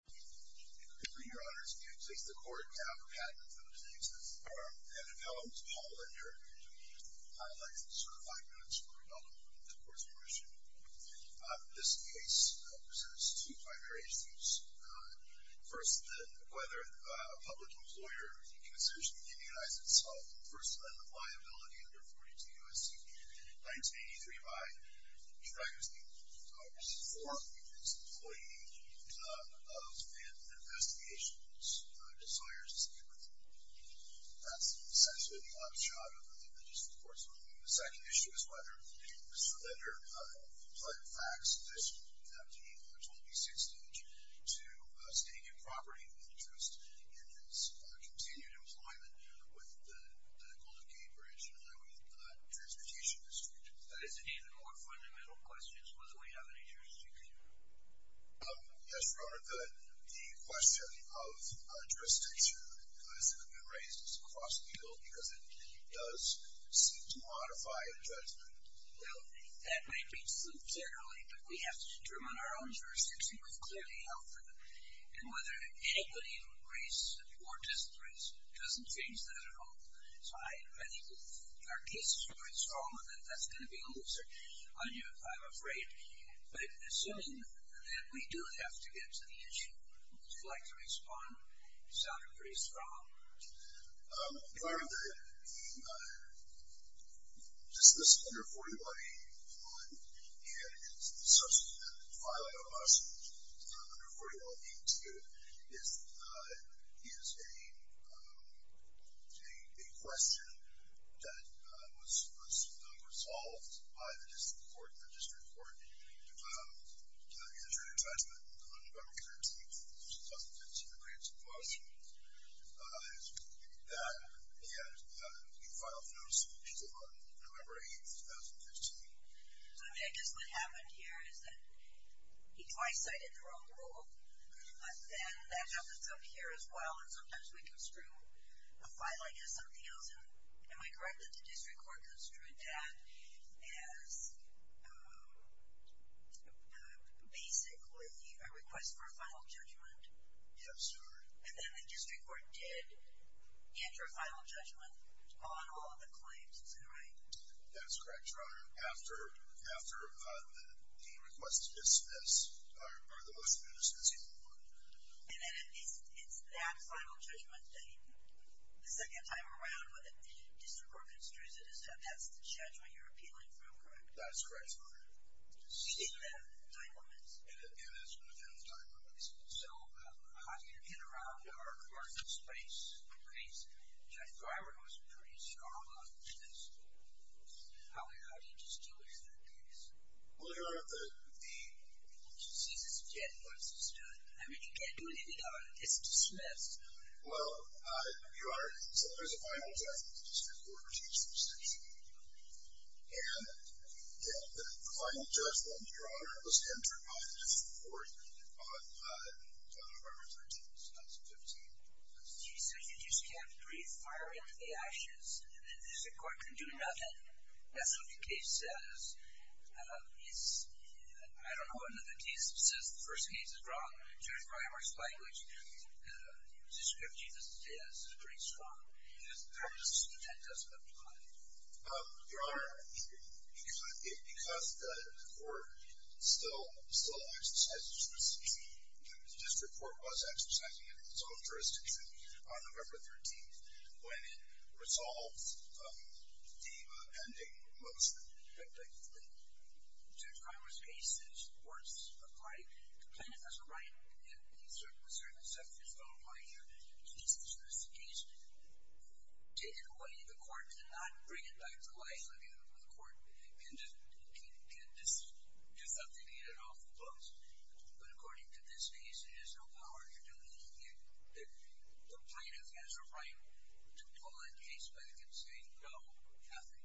For your honors, please place the court down for a moment for those names. And if I will, Ms. Paul Linder, I'd like to serve five minutes for a moment. Of course, I appreciate it. This case presents two primary issues. First, whether a public employer can seriously immunize itself versus a liability under 42 U.S.C. 1983 by trying to support its employee in an investigation whose desire is to secure the property. That's essentially the upshot of the judicial court's ruling. The second issue is whether Mr. Linder applied a FACTS decision in 1826 to stay in property with interest in its continued employment with the Golden Gate Bridge and highway transportation district. That is an even more fundamental question as to whether we have any jurisdiction here. Yes, Your Honor, the question of jurisdiction, who is it going to be raised across the field, because it does seem to modify the judgment. Well, that may be true generally, but we have to determine our own jurisdiction. We've clearly held for that. And whether anybody in race or dis-race doesn't change that at all. So I think our case is very strong that that's going to be a loser on you, I'm afraid. But assuming that we do have to get to the issue, would you like to respond? You sounded pretty strong. Your Honor, just this under 42 I.A. 1, and it's such a highlight of us under 42 I.A. 2, is a question that was resolved by the district court to the injury judgment on November 13, 2015, in the Grants and Flushing case. In that, he filed a notice of impeachment on November 8, 2015. So I guess what happened here is that he twice cited the wrong rule. But then that happens up here as well, and sometimes we construe a filing as something else. Am I correct that the district court construed that as basically a request for a final judgment? Yes, Your Honor. And then the district court did enter a final judgment on all of the claims, is that right? That's correct, Your Honor. After the request is dismissed, are the motion to dismiss any more? And then it's that final judgment that he, the second time around when the district court construes it, that's the judgment you're appealing from, correct? That's correct, Your Honor. And that's within the time limits? And that's within the time limits. So how do you get around our court in this case? Judge Greiber, who was pretty strong on this case, how did he just do it in that case? Well, Your Honor, the disease is dead once it's done. I mean, you can't do anything about it. It's dismissed. Well, Your Honor, so there's a final judgment that the district court receives from Section 8. And the final judgment, Your Honor, was entered by the district court on November 13, 2015. So you just kept refiring the actions and the district court can do nothing. That's what the case says. I don't know what the case says. The first case is wrong. Judge Greiber's language describes it as pretty strong. Perhaps that doesn't apply. Your Honor, because the court still exercises jurisdiction, the district court was exercising its own jurisdiction on November 13th when it resolved the ending of most of the victims. Judge Greiber's case is worse applied. The plaintiff has a right in certain sections of the law here to dismiss the case. Take it away. The court cannot bring it back to life. I mean, the court can do something to get it off the books. But according to this case, there is no power in what you're doing here. The plaintiff has a right to pull that case back and say, no, nothing.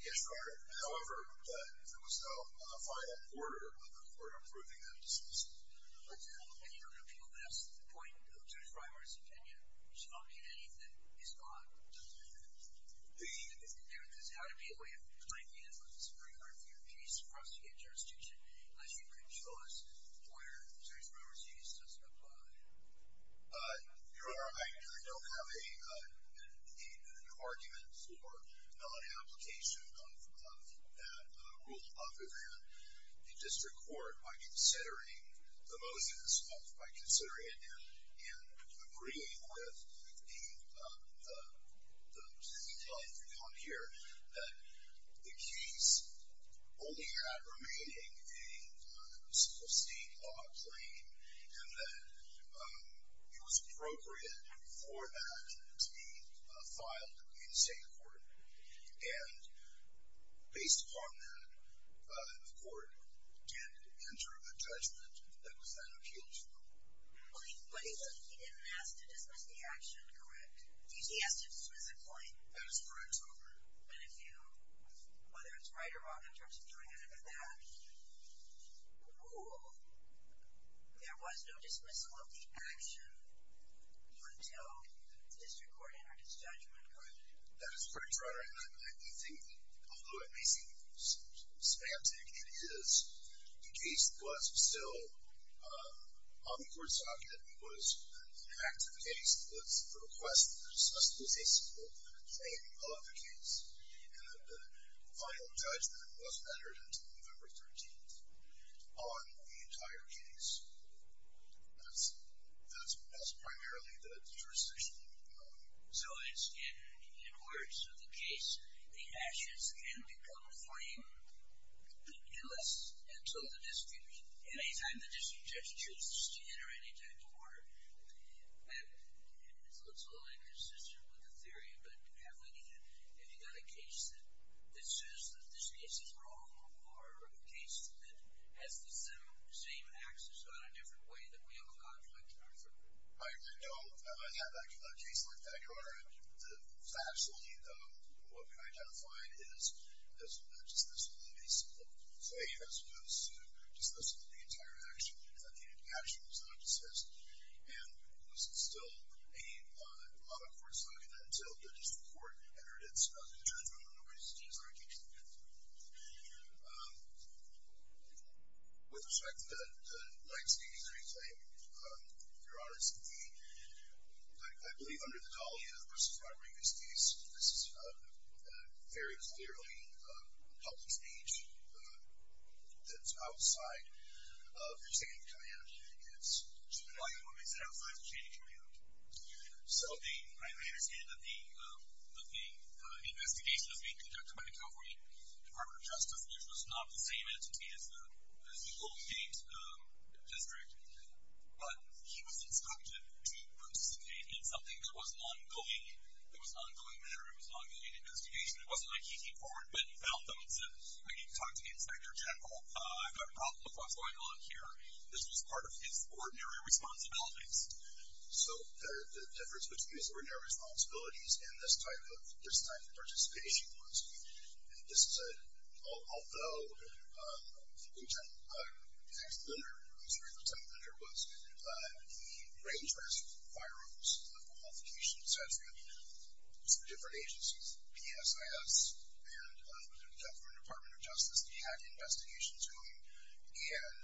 Yes, Your Honor. However, there was no final order by the court approving that dismissal. And you don't appeal this point of Judge Greiber's opinion. She'll not get anything. It's gone. There is how to be a way of timing it, but it's very hard for your case to proceed in jurisdiction unless you can show us where Judge Greiber's case doesn't apply. Your Honor, I really don't have an argument for non-application of that rule off of here. The district court, by considering the motions, by considering it and agreeing with the plaintiff on here, that the case only had remaining state law claim and that it was appropriate for that to be filed in state court. And based upon that, the court tended to enter a judgment that was then appealed to. But he didn't ask to dismiss the action, correct? He asked if it was a claim. That is correct, Your Honor. But if you, whether it's right or wrong in terms of doing it under that rule, there was no dismissal of the action until the district court entered its judgment, correct? That is correct, Your Honor. And I do think that, although it may seem spastic, it is. The case was still on the court's docket. It was an active case. It was a request for the dismissal of the claim of the case. And the final judgment was entered until November 13 on the entire case. That's primarily the jurisdiction. So in words of the case, the actions can become plain illicit until the district, any time the district judge chooses to enter any type of order. That looks a little inconsistent with the theory, but have you got a case that says that this case is wrong or a case that has the same axis on a different way than we have a conflict in our court? I don't have a case like that, Your Honor. Absolutely, though, what we've identified is a dismissal of the case, let's say, as opposed to dismissal of the entire action that the actual judge has. And was it still on the court's docket until the district court entered its judgment on the case or a case that did? With respect to the 9-83 claim, Your Honor, it's indeed. I believe under the dollar versus primary misdeeds, this is very clearly public speech that's outside of your standing command. Why do you want me to stand outside the standing command? So I understand that the investigation is being conducted by the California Department of Justice, which was not the same entity as the local state district. But he was instructed to participate in something that was an ongoing matter. It was an ongoing investigation. It wasn't like he came forward, went and found them and said, I need to talk to the inspector general. I've got a problem with what's going on here. This was part of his ordinary responsibilities. So the difference between his ordinary responsibilities and this type of participation was, this is a, although the contender, I'm sorry, the contender was the range of requirements, the qualifications, et cetera, for different agencies, PSIS and the California Department of Justice had investigations going. And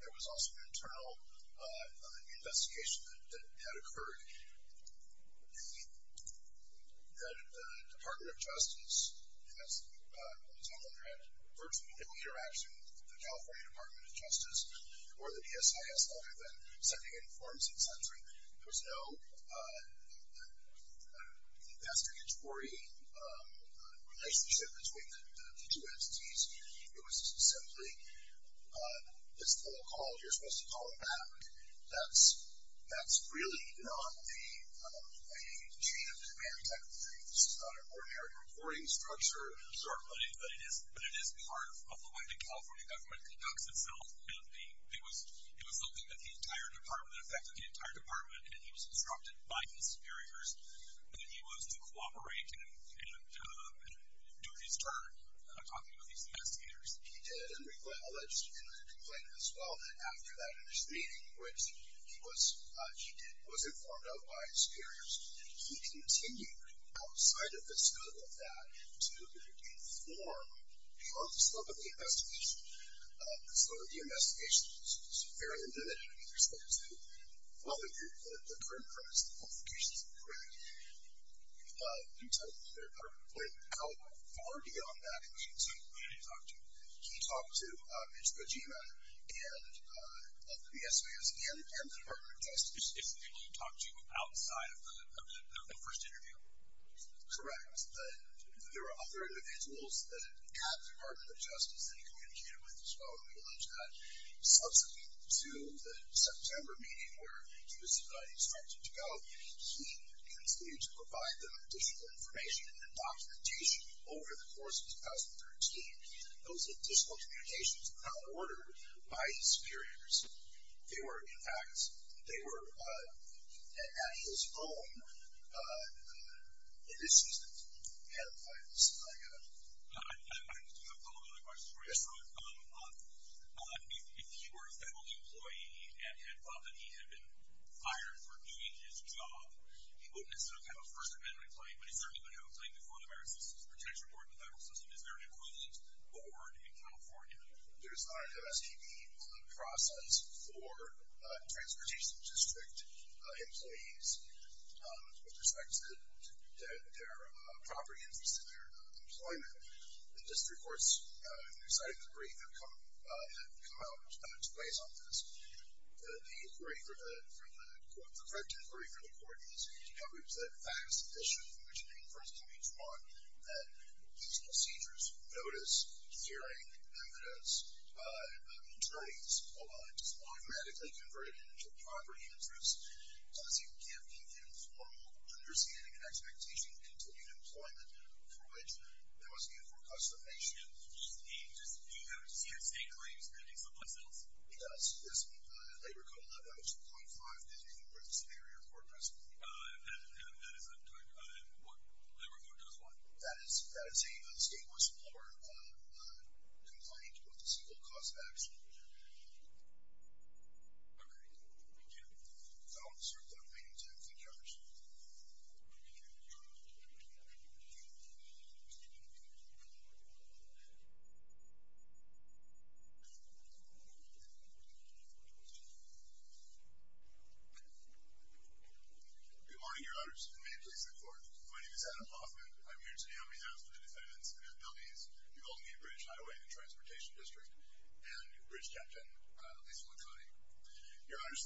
there was also an internal investigation that had occurred that the Department of Justice had virtually no interaction with the California Department of Justice or the PSIS other than sending in forms, et cetera. There was no investigatory relationship between the two entities. It was simply, it's all called, you're supposed to call it back. That's really not a chain of command type of thing. This is not an ordinary reporting structure. But it is part of the way the California government conducts itself. And it was something that the entire department, in fact, that the entire department, and he was instructed by his superiors that he was to cooperate and do his turn in talking to these investigators. He did, and we alleged in the complaint as well, that after that first meeting, which he did, he was informed of by his superiors, he continued outside of the scope of that to inform, along the slope of the investigation, the slope of the investigation, it's very individual in respect to, well, the current premise, the qualifications of the grant, he took their current complaint. Now, far beyond that, who did he talk to? He talked to Mitch Kojima of the PSAS and the Department of Justice. He talked to outside of the first interview? Correct, but there were other individuals at the Department of Justice that he communicated with as well, and we allege that. Subsequent to the September meeting where he was instructed to go, he continued to provide them additional information and documentation over the course of 2013. Those additional communications were not ordered by his superiors. They were, in fact, they were at his home in his season. Adam, go ahead. I have a couple of other questions for you. Yes, sir. If you were a federal employee and found that he had been fired for doing his job, he wouldn't necessarily have a first amendment complaint, but he certainly would have a complaint before the Veterans Assistance Protection Board, the federal system, is there an equivalent board in California? There's not an MSPB process for transportation district employees with respect to their property interests and their employment. The district courts, whose side of the jury have come out to base on this, the inquiry for the court, the correct inquiry for the court is, you know, it's a vast issue from which many firms can be drawn that these procedures, notice, hearing, evidence, attorneys, all while it's only radically converted into property interests, does it give the informal understanding and expectation of continued employment for which there was a need for customization? Do you have a CSA claim standing for customs? It does, yes. Labor Code 11.2.5, does it include the scenario for a precedent? That is what Labor Code does what? That is saying that the state wants to lower a complaint with a single cause of action. Agreed. That will serve the remaining time. Thank you. Thank you. Thank you. Thank you. Thank you. Thank you. Thank you. Thank you. Thank you. Thank you. Thank you. Thank you. Good morning, Your Honors. May it please the Court. My name is Adam Hoffman. I'm here today on behalf of the defendants and their families, the Albany Bridge Highway and Transportation District, and Bridge Captain Lisa Lacani. Your Honors,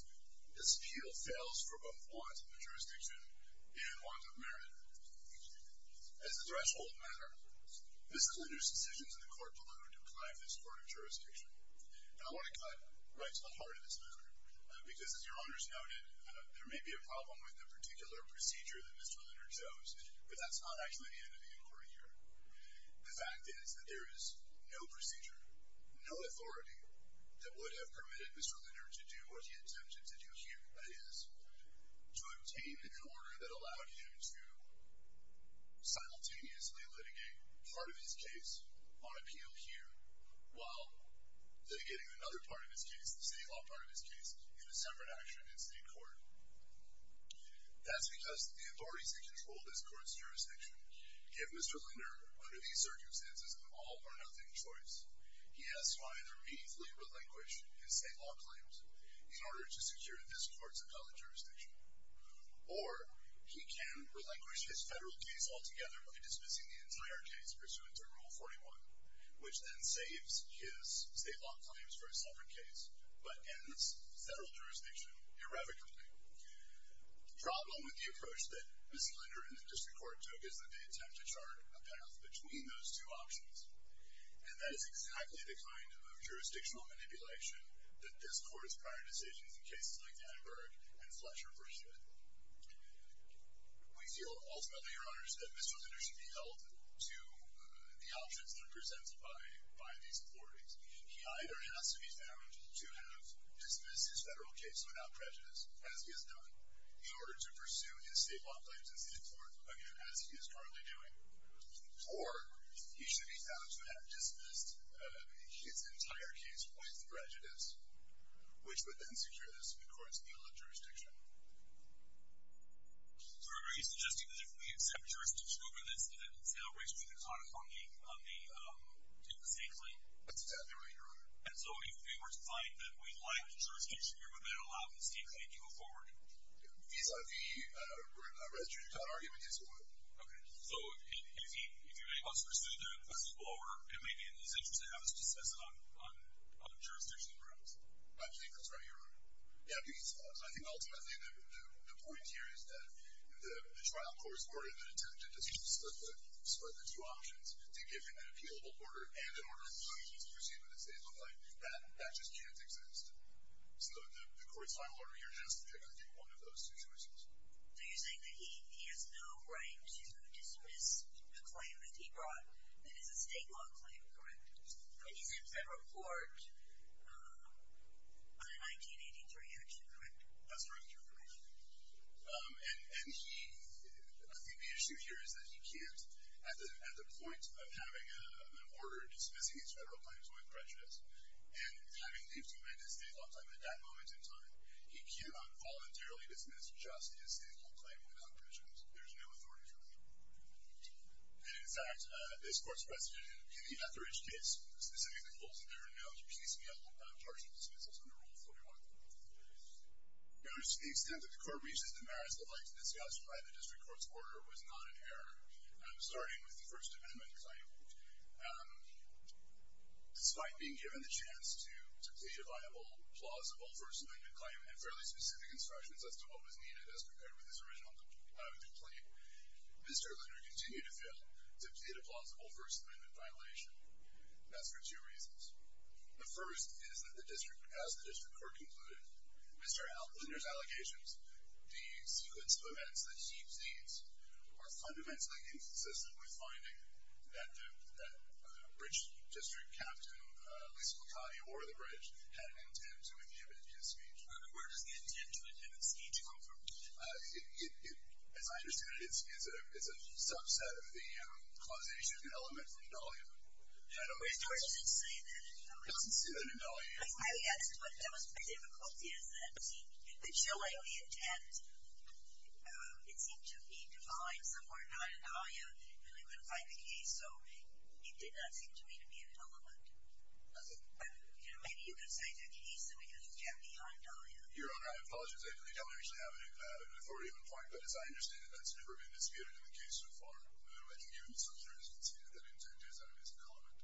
this appeal fails for both wants of jurisdiction and wants of merit. As a threshold matter, Ms. Linder's decisions in the Court will have to apply to this Court of Jurisdiction. And I want to cut right to the heart of this matter, because as Your Honors noted, there may be a problem with the particular procedure that Mr. Linder chose, but that's not actually the end of the inquiry here. The fact is that there is no procedure, no authority, that would have permitted Mr. Linder to do what he intended to do here, that is, to obtain an order that allowed him to simultaneously litigate part of his case on appeal here while litigating another part of his case, the state law part of his case, in a separate action in state court. That's because the authorities that control this Court of Jurisdiction give Mr. Linder, under these circumstances, an all-or-nothing choice. He has to either meekly relinquish his state law claims in order to secure this Court's appellate jurisdiction, or he can relinquish his federal case altogether by dismissing the entire case pursuant to Rule 41, which then saves his state law claims for a separate case but ends federal jurisdiction irrevocably. The problem with the approach that Mr. Linder and the district court took is that they attempt to chart a path between those two options, and that is exactly the kind of jurisdictional manipulation that discords prior decisions in cases like Annenberg and Fletcher versus it. We feel, ultimately, Your Honors, that Mr. Linder should be held to the options that are presented by these authorities. He either has to be found to have dismissed his federal case without prejudice, as he has done, in order to pursue his state law claims as in-court again, as he is currently doing, or he should be found to have dismissed his entire case without prejudice, which would then secure his court's appeal of jurisdiction. So are you suggesting that if we accept jurisdiction over this, that it celebrates being an autonomous body on the state claim? That's exactly right, Your Honor. And so if we were to find that we like the jurisdiction here, would that allow the state claim to go forward? Vis-a-vis a residential town argument, yes, it would. Okay. So if you make us pursue the principle order, it may be in his interest to have us discuss it on jurisdiction grounds. I think that's right, Your Honor. Yeah, because I think ultimately the point here is that the trial court's order intended to just split the two options to give him an appealable order, and in order for him to proceed with his state law claim, that just can't exist. So the court's final order here has to pick either one of those two choices. So you're saying that he has no right to dismiss the claim that he brought that is a state law claim, correct? He's in federal court. I can't answer your question, Your Honor. That's all right, Your Honor. And he... I think the issue here is that he can't, at the point of having an order dismissing his federal claims with prejudice, and having lived in the United States all the time at that moment in time, he can't involuntarily dismiss justice in a state law claim without prejudice. There's no authority for that. And in fact, this court's precedent in the Etheridge case specifically holds that there are no piecemeal partial dismissals under Rule 41. You'll notice to the extent that the court reached a demerit that I'd like to discuss by the district court's order was not in error, starting with the First Amendment claim. Despite being given the chance to plead a viable, plausible First Amendment claim and fairly specific instructions as to what was needed as compared with his original complaint, Mr. O'Connor continued to fail to plead a plausible First Amendment violation. That's for two reasons. The first is that the district, as the district court concluded, Mr. O'Connor's allegations, the sequence of events that he sees, are fundamentally inconsistent with finding that the... that Bridge District Captain Lisa McCauley, or the Bridge, had an intent to inhibit his speech. Where does the intent to inhibit speech come from? As I understand it, it's a subset of the causation of an element in the volume. I don't understand. It doesn't say that in the volume. I would add that that was the difficulty is that the joy of the intent, it seemed to be defined somewhere not in the volume, and I couldn't find the case, so it did not seem to me to be an element. Maybe you could cite a case in which it was kept behind volume. Your Honor, I apologize. I don't actually have an authority on the point, but as I understand it, that's never been disputed in the case so far. I can give you some certainty that the intent is an element.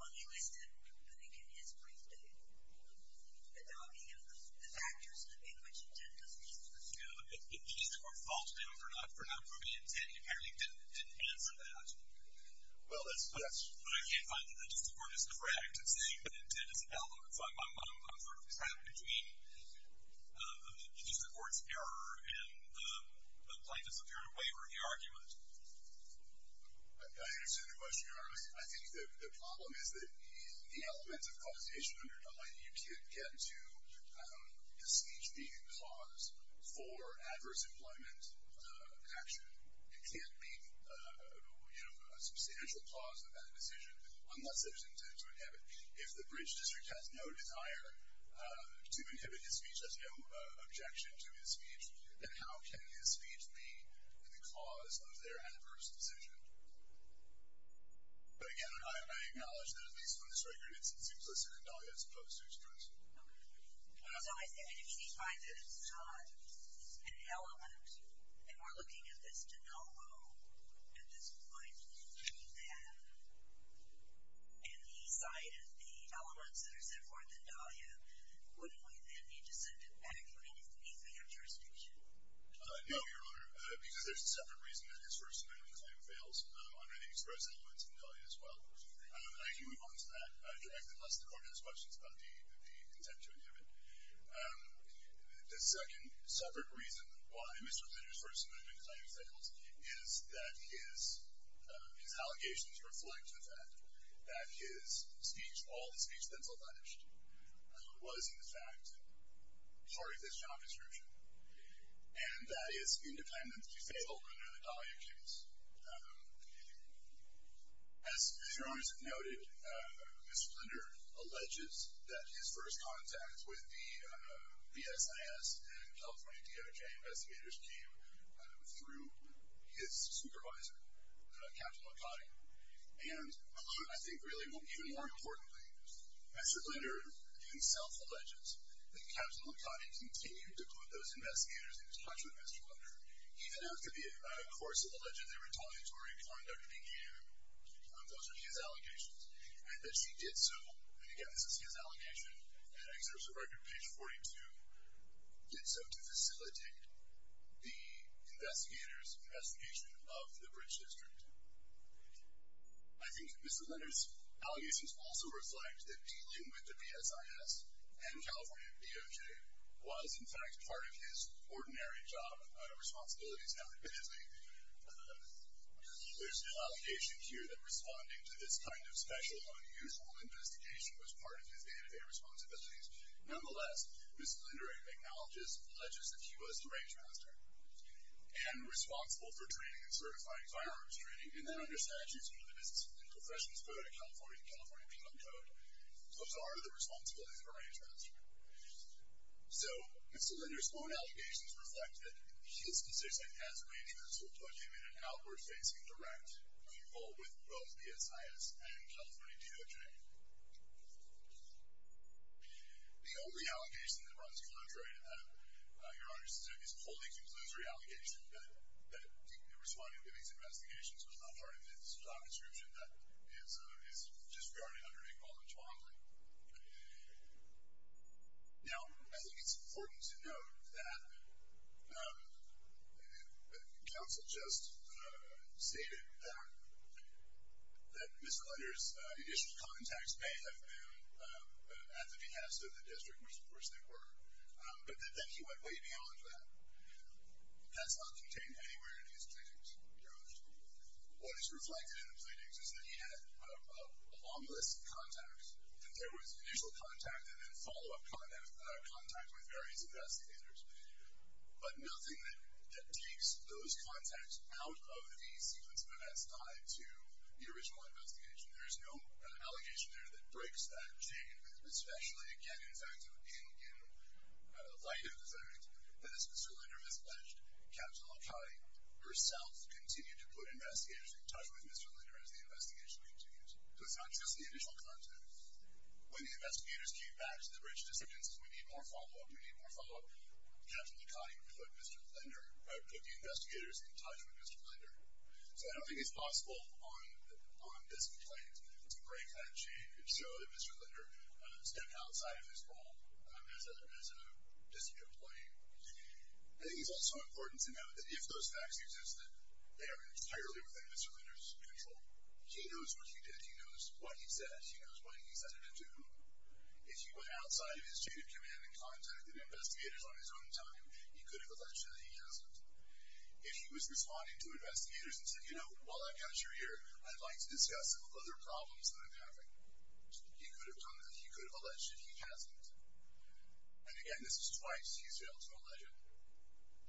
Well, you listed, I think, in his brief, the dogging of the factors in which intent doesn't exist. If each court falls down for not proving intent, you apparently didn't answer that. Well, that's... But I can't find that the district court is correct in saying that intent is an element. So I'm not sure if it's happening to me. The district court's error in the plaintiff's apparent waiver of the argument. I understand the question, Your Honor. I think the problem is that the elements of causation underlying it, you can't get to the speech being a cause for adverse employment action. It can't be a substantial cause of that decision unless there's intent to inhibit. If the bridge district has no desire to inhibit his speech, there's no objection to his speech, then how can his speech be the cause of their adverse decision? But again, I acknowledge that at least from this record, it's implicit in Dahlia's post-treatment. So I say, I mean, if he finds that it's not an element, and we're looking at this de novo at this point, do you have any sight of the Dahlia, wouldn't we then need to send him back for any further jurisdiction? No, Your Honor. Because there's a separate reason that his first amendment claim fails, under the express elements in Dahlia as well. I can move on to that directly unless the court has questions about the intent to inhibit. The second separate reason why Mr. Zinner's first amendment claim fails is that his allegations reflect the fact that his speech, all the speech that's alleged, was in fact part of his job description. And that is independent to fail under the Dahlia case. As Your Honors have noted, Mr. Zinner alleges that his first contact with the BSIS and California DOJ investigators came through his supervisor, Captain McCaughey. And I think really, even more importantly, Mr. Zinner himself alleges that Captain McCaughey continued to put those investigators in touch with Mr. Zinner, even after the course of the alleged retaliatory conduct began. Those are his allegations. And that she did so, and again this is his allegation, and I think there's a record, page 42, did so to facilitate the investigators' investigation of the Bridge District. I think Mr. Zinner's allegations also reflect that dealing with the BSIS and California DOJ was in fact part of his ordinary job responsibilities now admittedly. There's no allegation here that responding to this kind of special unusual investigation was part of his day-to-day responsibilities. Nonetheless, Mr. Zinner acknowledges, alleges that he was the rangemaster and responsible for training and certifying firearms training and then understands he was part of the professions code at California, the California become code. So those are the responsibilities of a rangemaster. So, Mr. Zinner's own allegations reflect that his position as a rangemaster put him in an outward facing direct with both BSIS and California The only allegation that runs contrary to that Your Honor, Mr. Zinner is holding Mr. Zinner's allegation that responding to these investigations was not part of his job description that is disregarding under equal responsibility. Now, I think it's important to note that counsel just stated that that Mr. Zinner's initial contacts may have been at the behest of the district which of course they were but then he went way beyond that That's not contained anywhere in his pleadings. Your Honor. What is reflected in the pleadings is that he had harmless contacts and there was initial contact and then follow up contact with various investigators but nothing that takes those contacts out of the sequence of events tied to the original investigation There's no allegation there that breaks that chain, especially again, in fact, in light of the fact that as Mr. Linder has alleged, Captain LaConte herself continued to put investigators in touch with Mr. Linder as the investigation continued. So it's not just the initial contact When the investigators came back to the bridge to say we need more follow up, we need more follow up Captain LaConte put Mr. Linder put the investigators in touch with Mr. Linder. So I don't think it's possible on this complaint to break that chain So that Mr. Linder stepped outside of his role as a as a district employee I think it's also important to note that if those facts existed they are entirely within Mr. Linder's control He knows what he did, he knows what he said, he knows what he said it to If he went outside of his chain of command and contacted investigators on his own time, he could have alleged that he hasn't. If he was responding to investigators and said, you know, while I've got you here, I'd like to discuss some other problems that I'm having he could have done that, he could have alleged that he hasn't And again, this is twice he's failed to allege it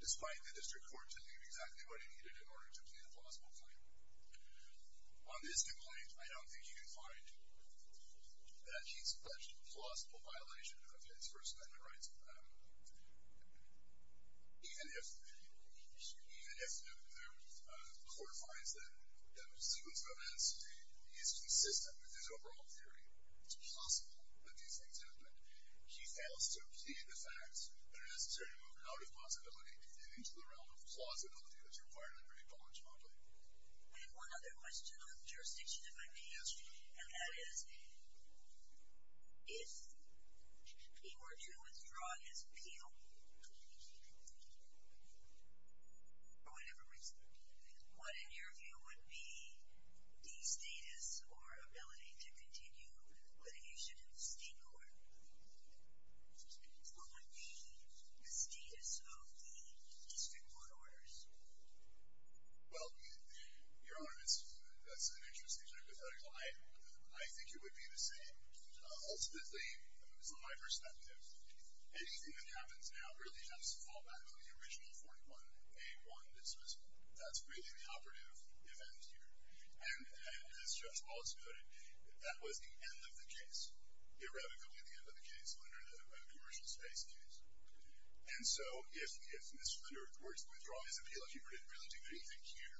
despite the district court telling him exactly what he needed in order to plead a plausible claim On this complaint, I don't think you can find that he's pledged a plausible violation of his First Amendment rights Even if the court finds that the sequence of events is consistent with his overall theory it's possible that these things happened he fails to obtain the facts that are necessary to move out of plausibility and into the realm of plausibility that you're required to bring forward to the public I have one other question on jurisdiction if I may and that is if he were to withdraw his appeal for whatever reason what in your view would be the status or ability to continue litigation in the state court What would be the status of the district court orders Well, Your Honor that's an interesting hypothetical I think it would be the same Ultimately, from my perspective anything that happens now really has to fall back on the original 41-A-1 dismissal That's really the operative event here and as Judge Waltz noted that was the end of the case irrevocably the end of the case under the Commercial Space case and so if Mr. Linder were to withdraw his appeal if he were to really do anything here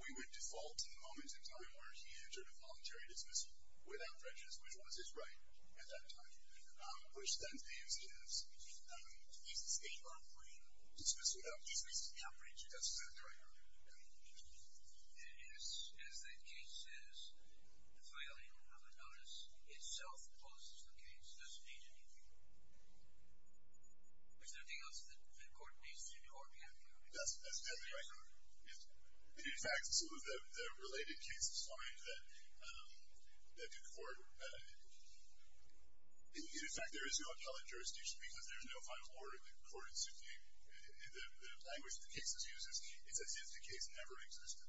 we would default to the moment in time where he entered a voluntary dismissal without prejudice, which was his right at that time which then paves the way for dismissal without prejudice That's exactly right, Your Honor And as that case says, the filing of a notice itself posts the case, it doesn't age anything Is there anything else that the court needs to do or we have time In fact, the related cases find that the court In fact, there is no appellate jurisdiction because there is no final order according to the language the case uses, it's as if the case never existed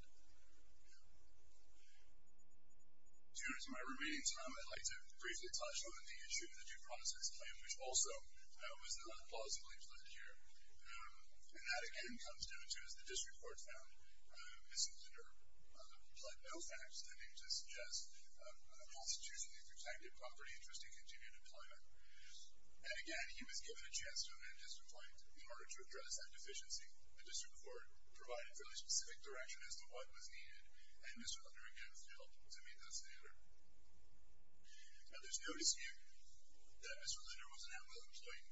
To my remaining time, I'd like to briefly touch on the issue of the due process claim, which also was not plausibly pled here and that again comes down to as the District Court found Mr. Linder pled no facts intending to suggest a constitutionally protected property interest in continued employment And again, he was given a chance to own a district land in order to address that deficiency The District Court provided fairly specific direction as to what was needed and Mr. Linder again failed to meet that standard Now there's no dispute that Mr. Linder was an at-will employee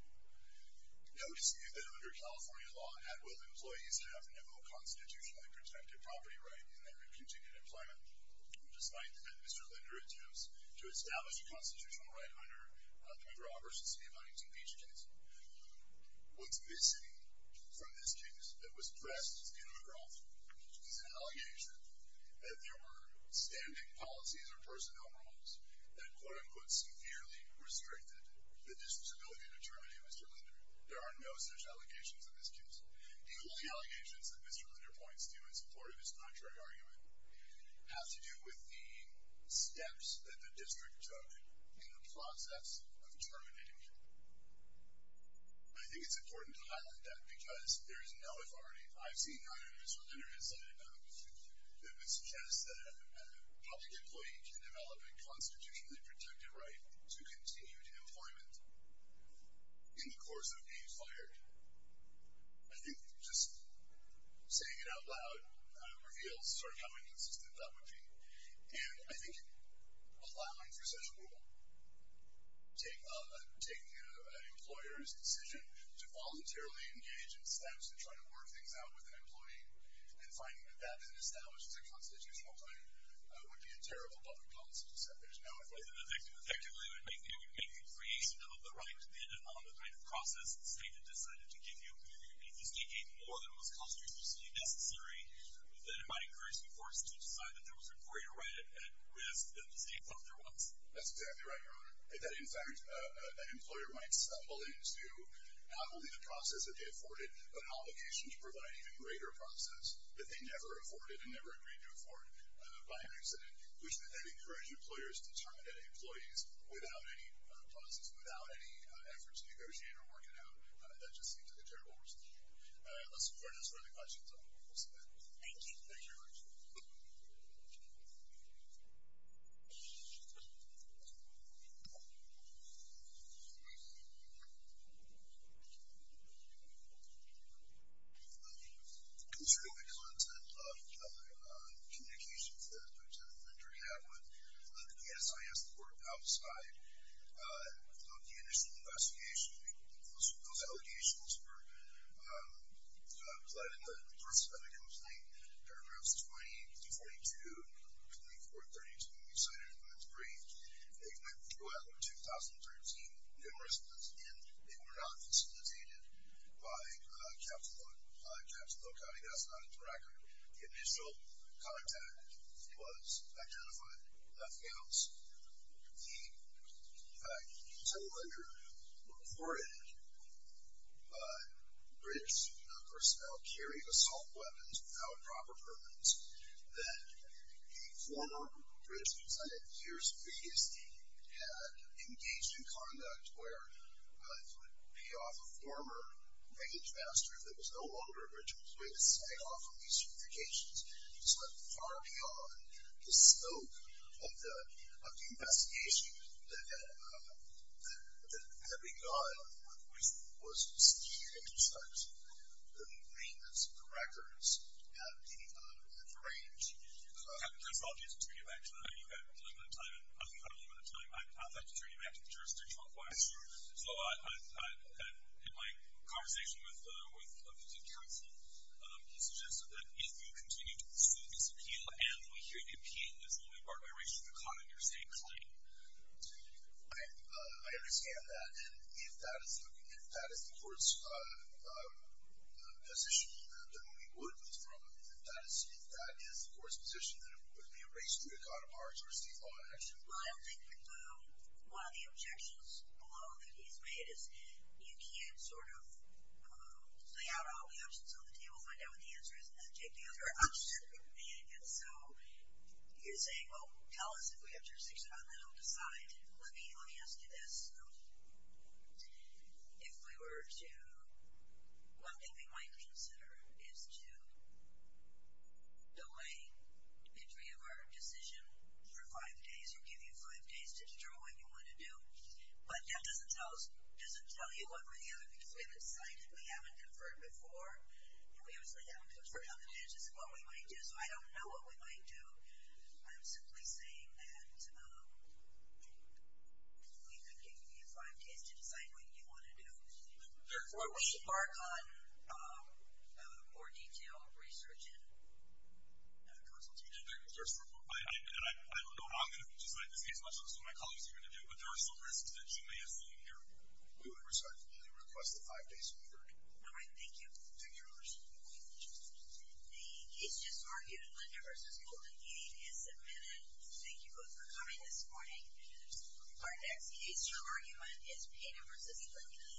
No dispute that under California law, at-will employees have no constitutionally protected property right in their continued employment despite that Mr. Linder intends to establish a constitutional right under the Robertson City of Huntington Beach case What's missing from this case that was pressed in McGraw is an allegation that there were standing policies or personnel rules that quote-unquote severely restricted the district's ability to terminate Mr. Linder There are no such allegations in this case Even the allegations that Mr. Linder points to in support of this contrary argument have to do with the steps that the district took in the process of terminating him I think it's important to highlight that because there is no authority I've seen on either Mr. Linder's side that would suggest that a public employee can develop a constitutionally protected right to continued employment in the course of being fired I think just saying it out loud reveals sort of how inconsistent that would be and I think allowing for such a rule taking an employer's decision to voluntarily engage in steps to try to work things out with an employee and finding that that isn't established as a constitutional right would be a terrible public policy to set there's no authority It would make the creation of the right dependent on the kind of process the state had decided to give you If this became more than was constitutionally necessary, then it might encourage the courts to decide that there was a greater right at risk than the state thought there was That's exactly right, Your Honor In fact, an employer might stumble into not only the process that they afforded, but obligations providing a greater process that they never afforded and never agreed to afford by accident, which would then encourage employers to terminate employees without any policies, without any effort to negotiate or work it out That just seems like a terrible procedure Let's move on to some of the questions Thank you Concerning the content of the communications that the attorney had with the KSIS court outside of the initial investigation, those allegations were fled in the purse of a complainant. Paragraphs 20, 242, and 234, 32 we cited in the brief They went through after 2013 numerous times, and they were not facilitated by Capitol County That's not in the record The initial contact was identified by FGAMS In fact, Senator Linder reported that British personnel carry assault weapons without proper permits that a former British consul in the years previously had engaged in conduct where it would be off a former page master that was no longer a British employee to stay off of these communications. He went far beyond the scope of the investigation that had begun, which was to seek to construct the maintenance of the records at any time of the range. I'd like to turn you back to the jurisdiction so I in my conversation with you continue to pursue this appeal and we hear the opinion that it's only part of a race to the cot on your same claim I understand that, and if that is the court's position that we would withdraw, if that is the court's position that it would be a race to the cot of our state law in action Well, I don't think that one of the objections below that he's made is that you can't sort of say out all the options on the table, find out what the answer is, and take the other option. And so you're saying, well, tell us if we have jurisdiction on that, I'll decide let me ask you this if we were to one thing we might consider is to delay entry of our decision for five days, we'll give you five days to determine what you want to do but that doesn't tell us doesn't tell you one way or the other because we haven't decided, we haven't conferred before and we obviously haven't conferred on the basis of what we might do, so I don't know what we might do. I'm simply saying that we could give you five days to decide what you want to do therefore we embark on more detailed research and consultations I don't know how I'm going to decide this case much less what my colleagues are going to do, but there are some risks that you may assume we would request the five days to be adjourned. Thank you. The case just argued Linda vs. Golden Gate is admitted. Thank you both for coming this morning. Our next case to argument is Payton vs. Clinton.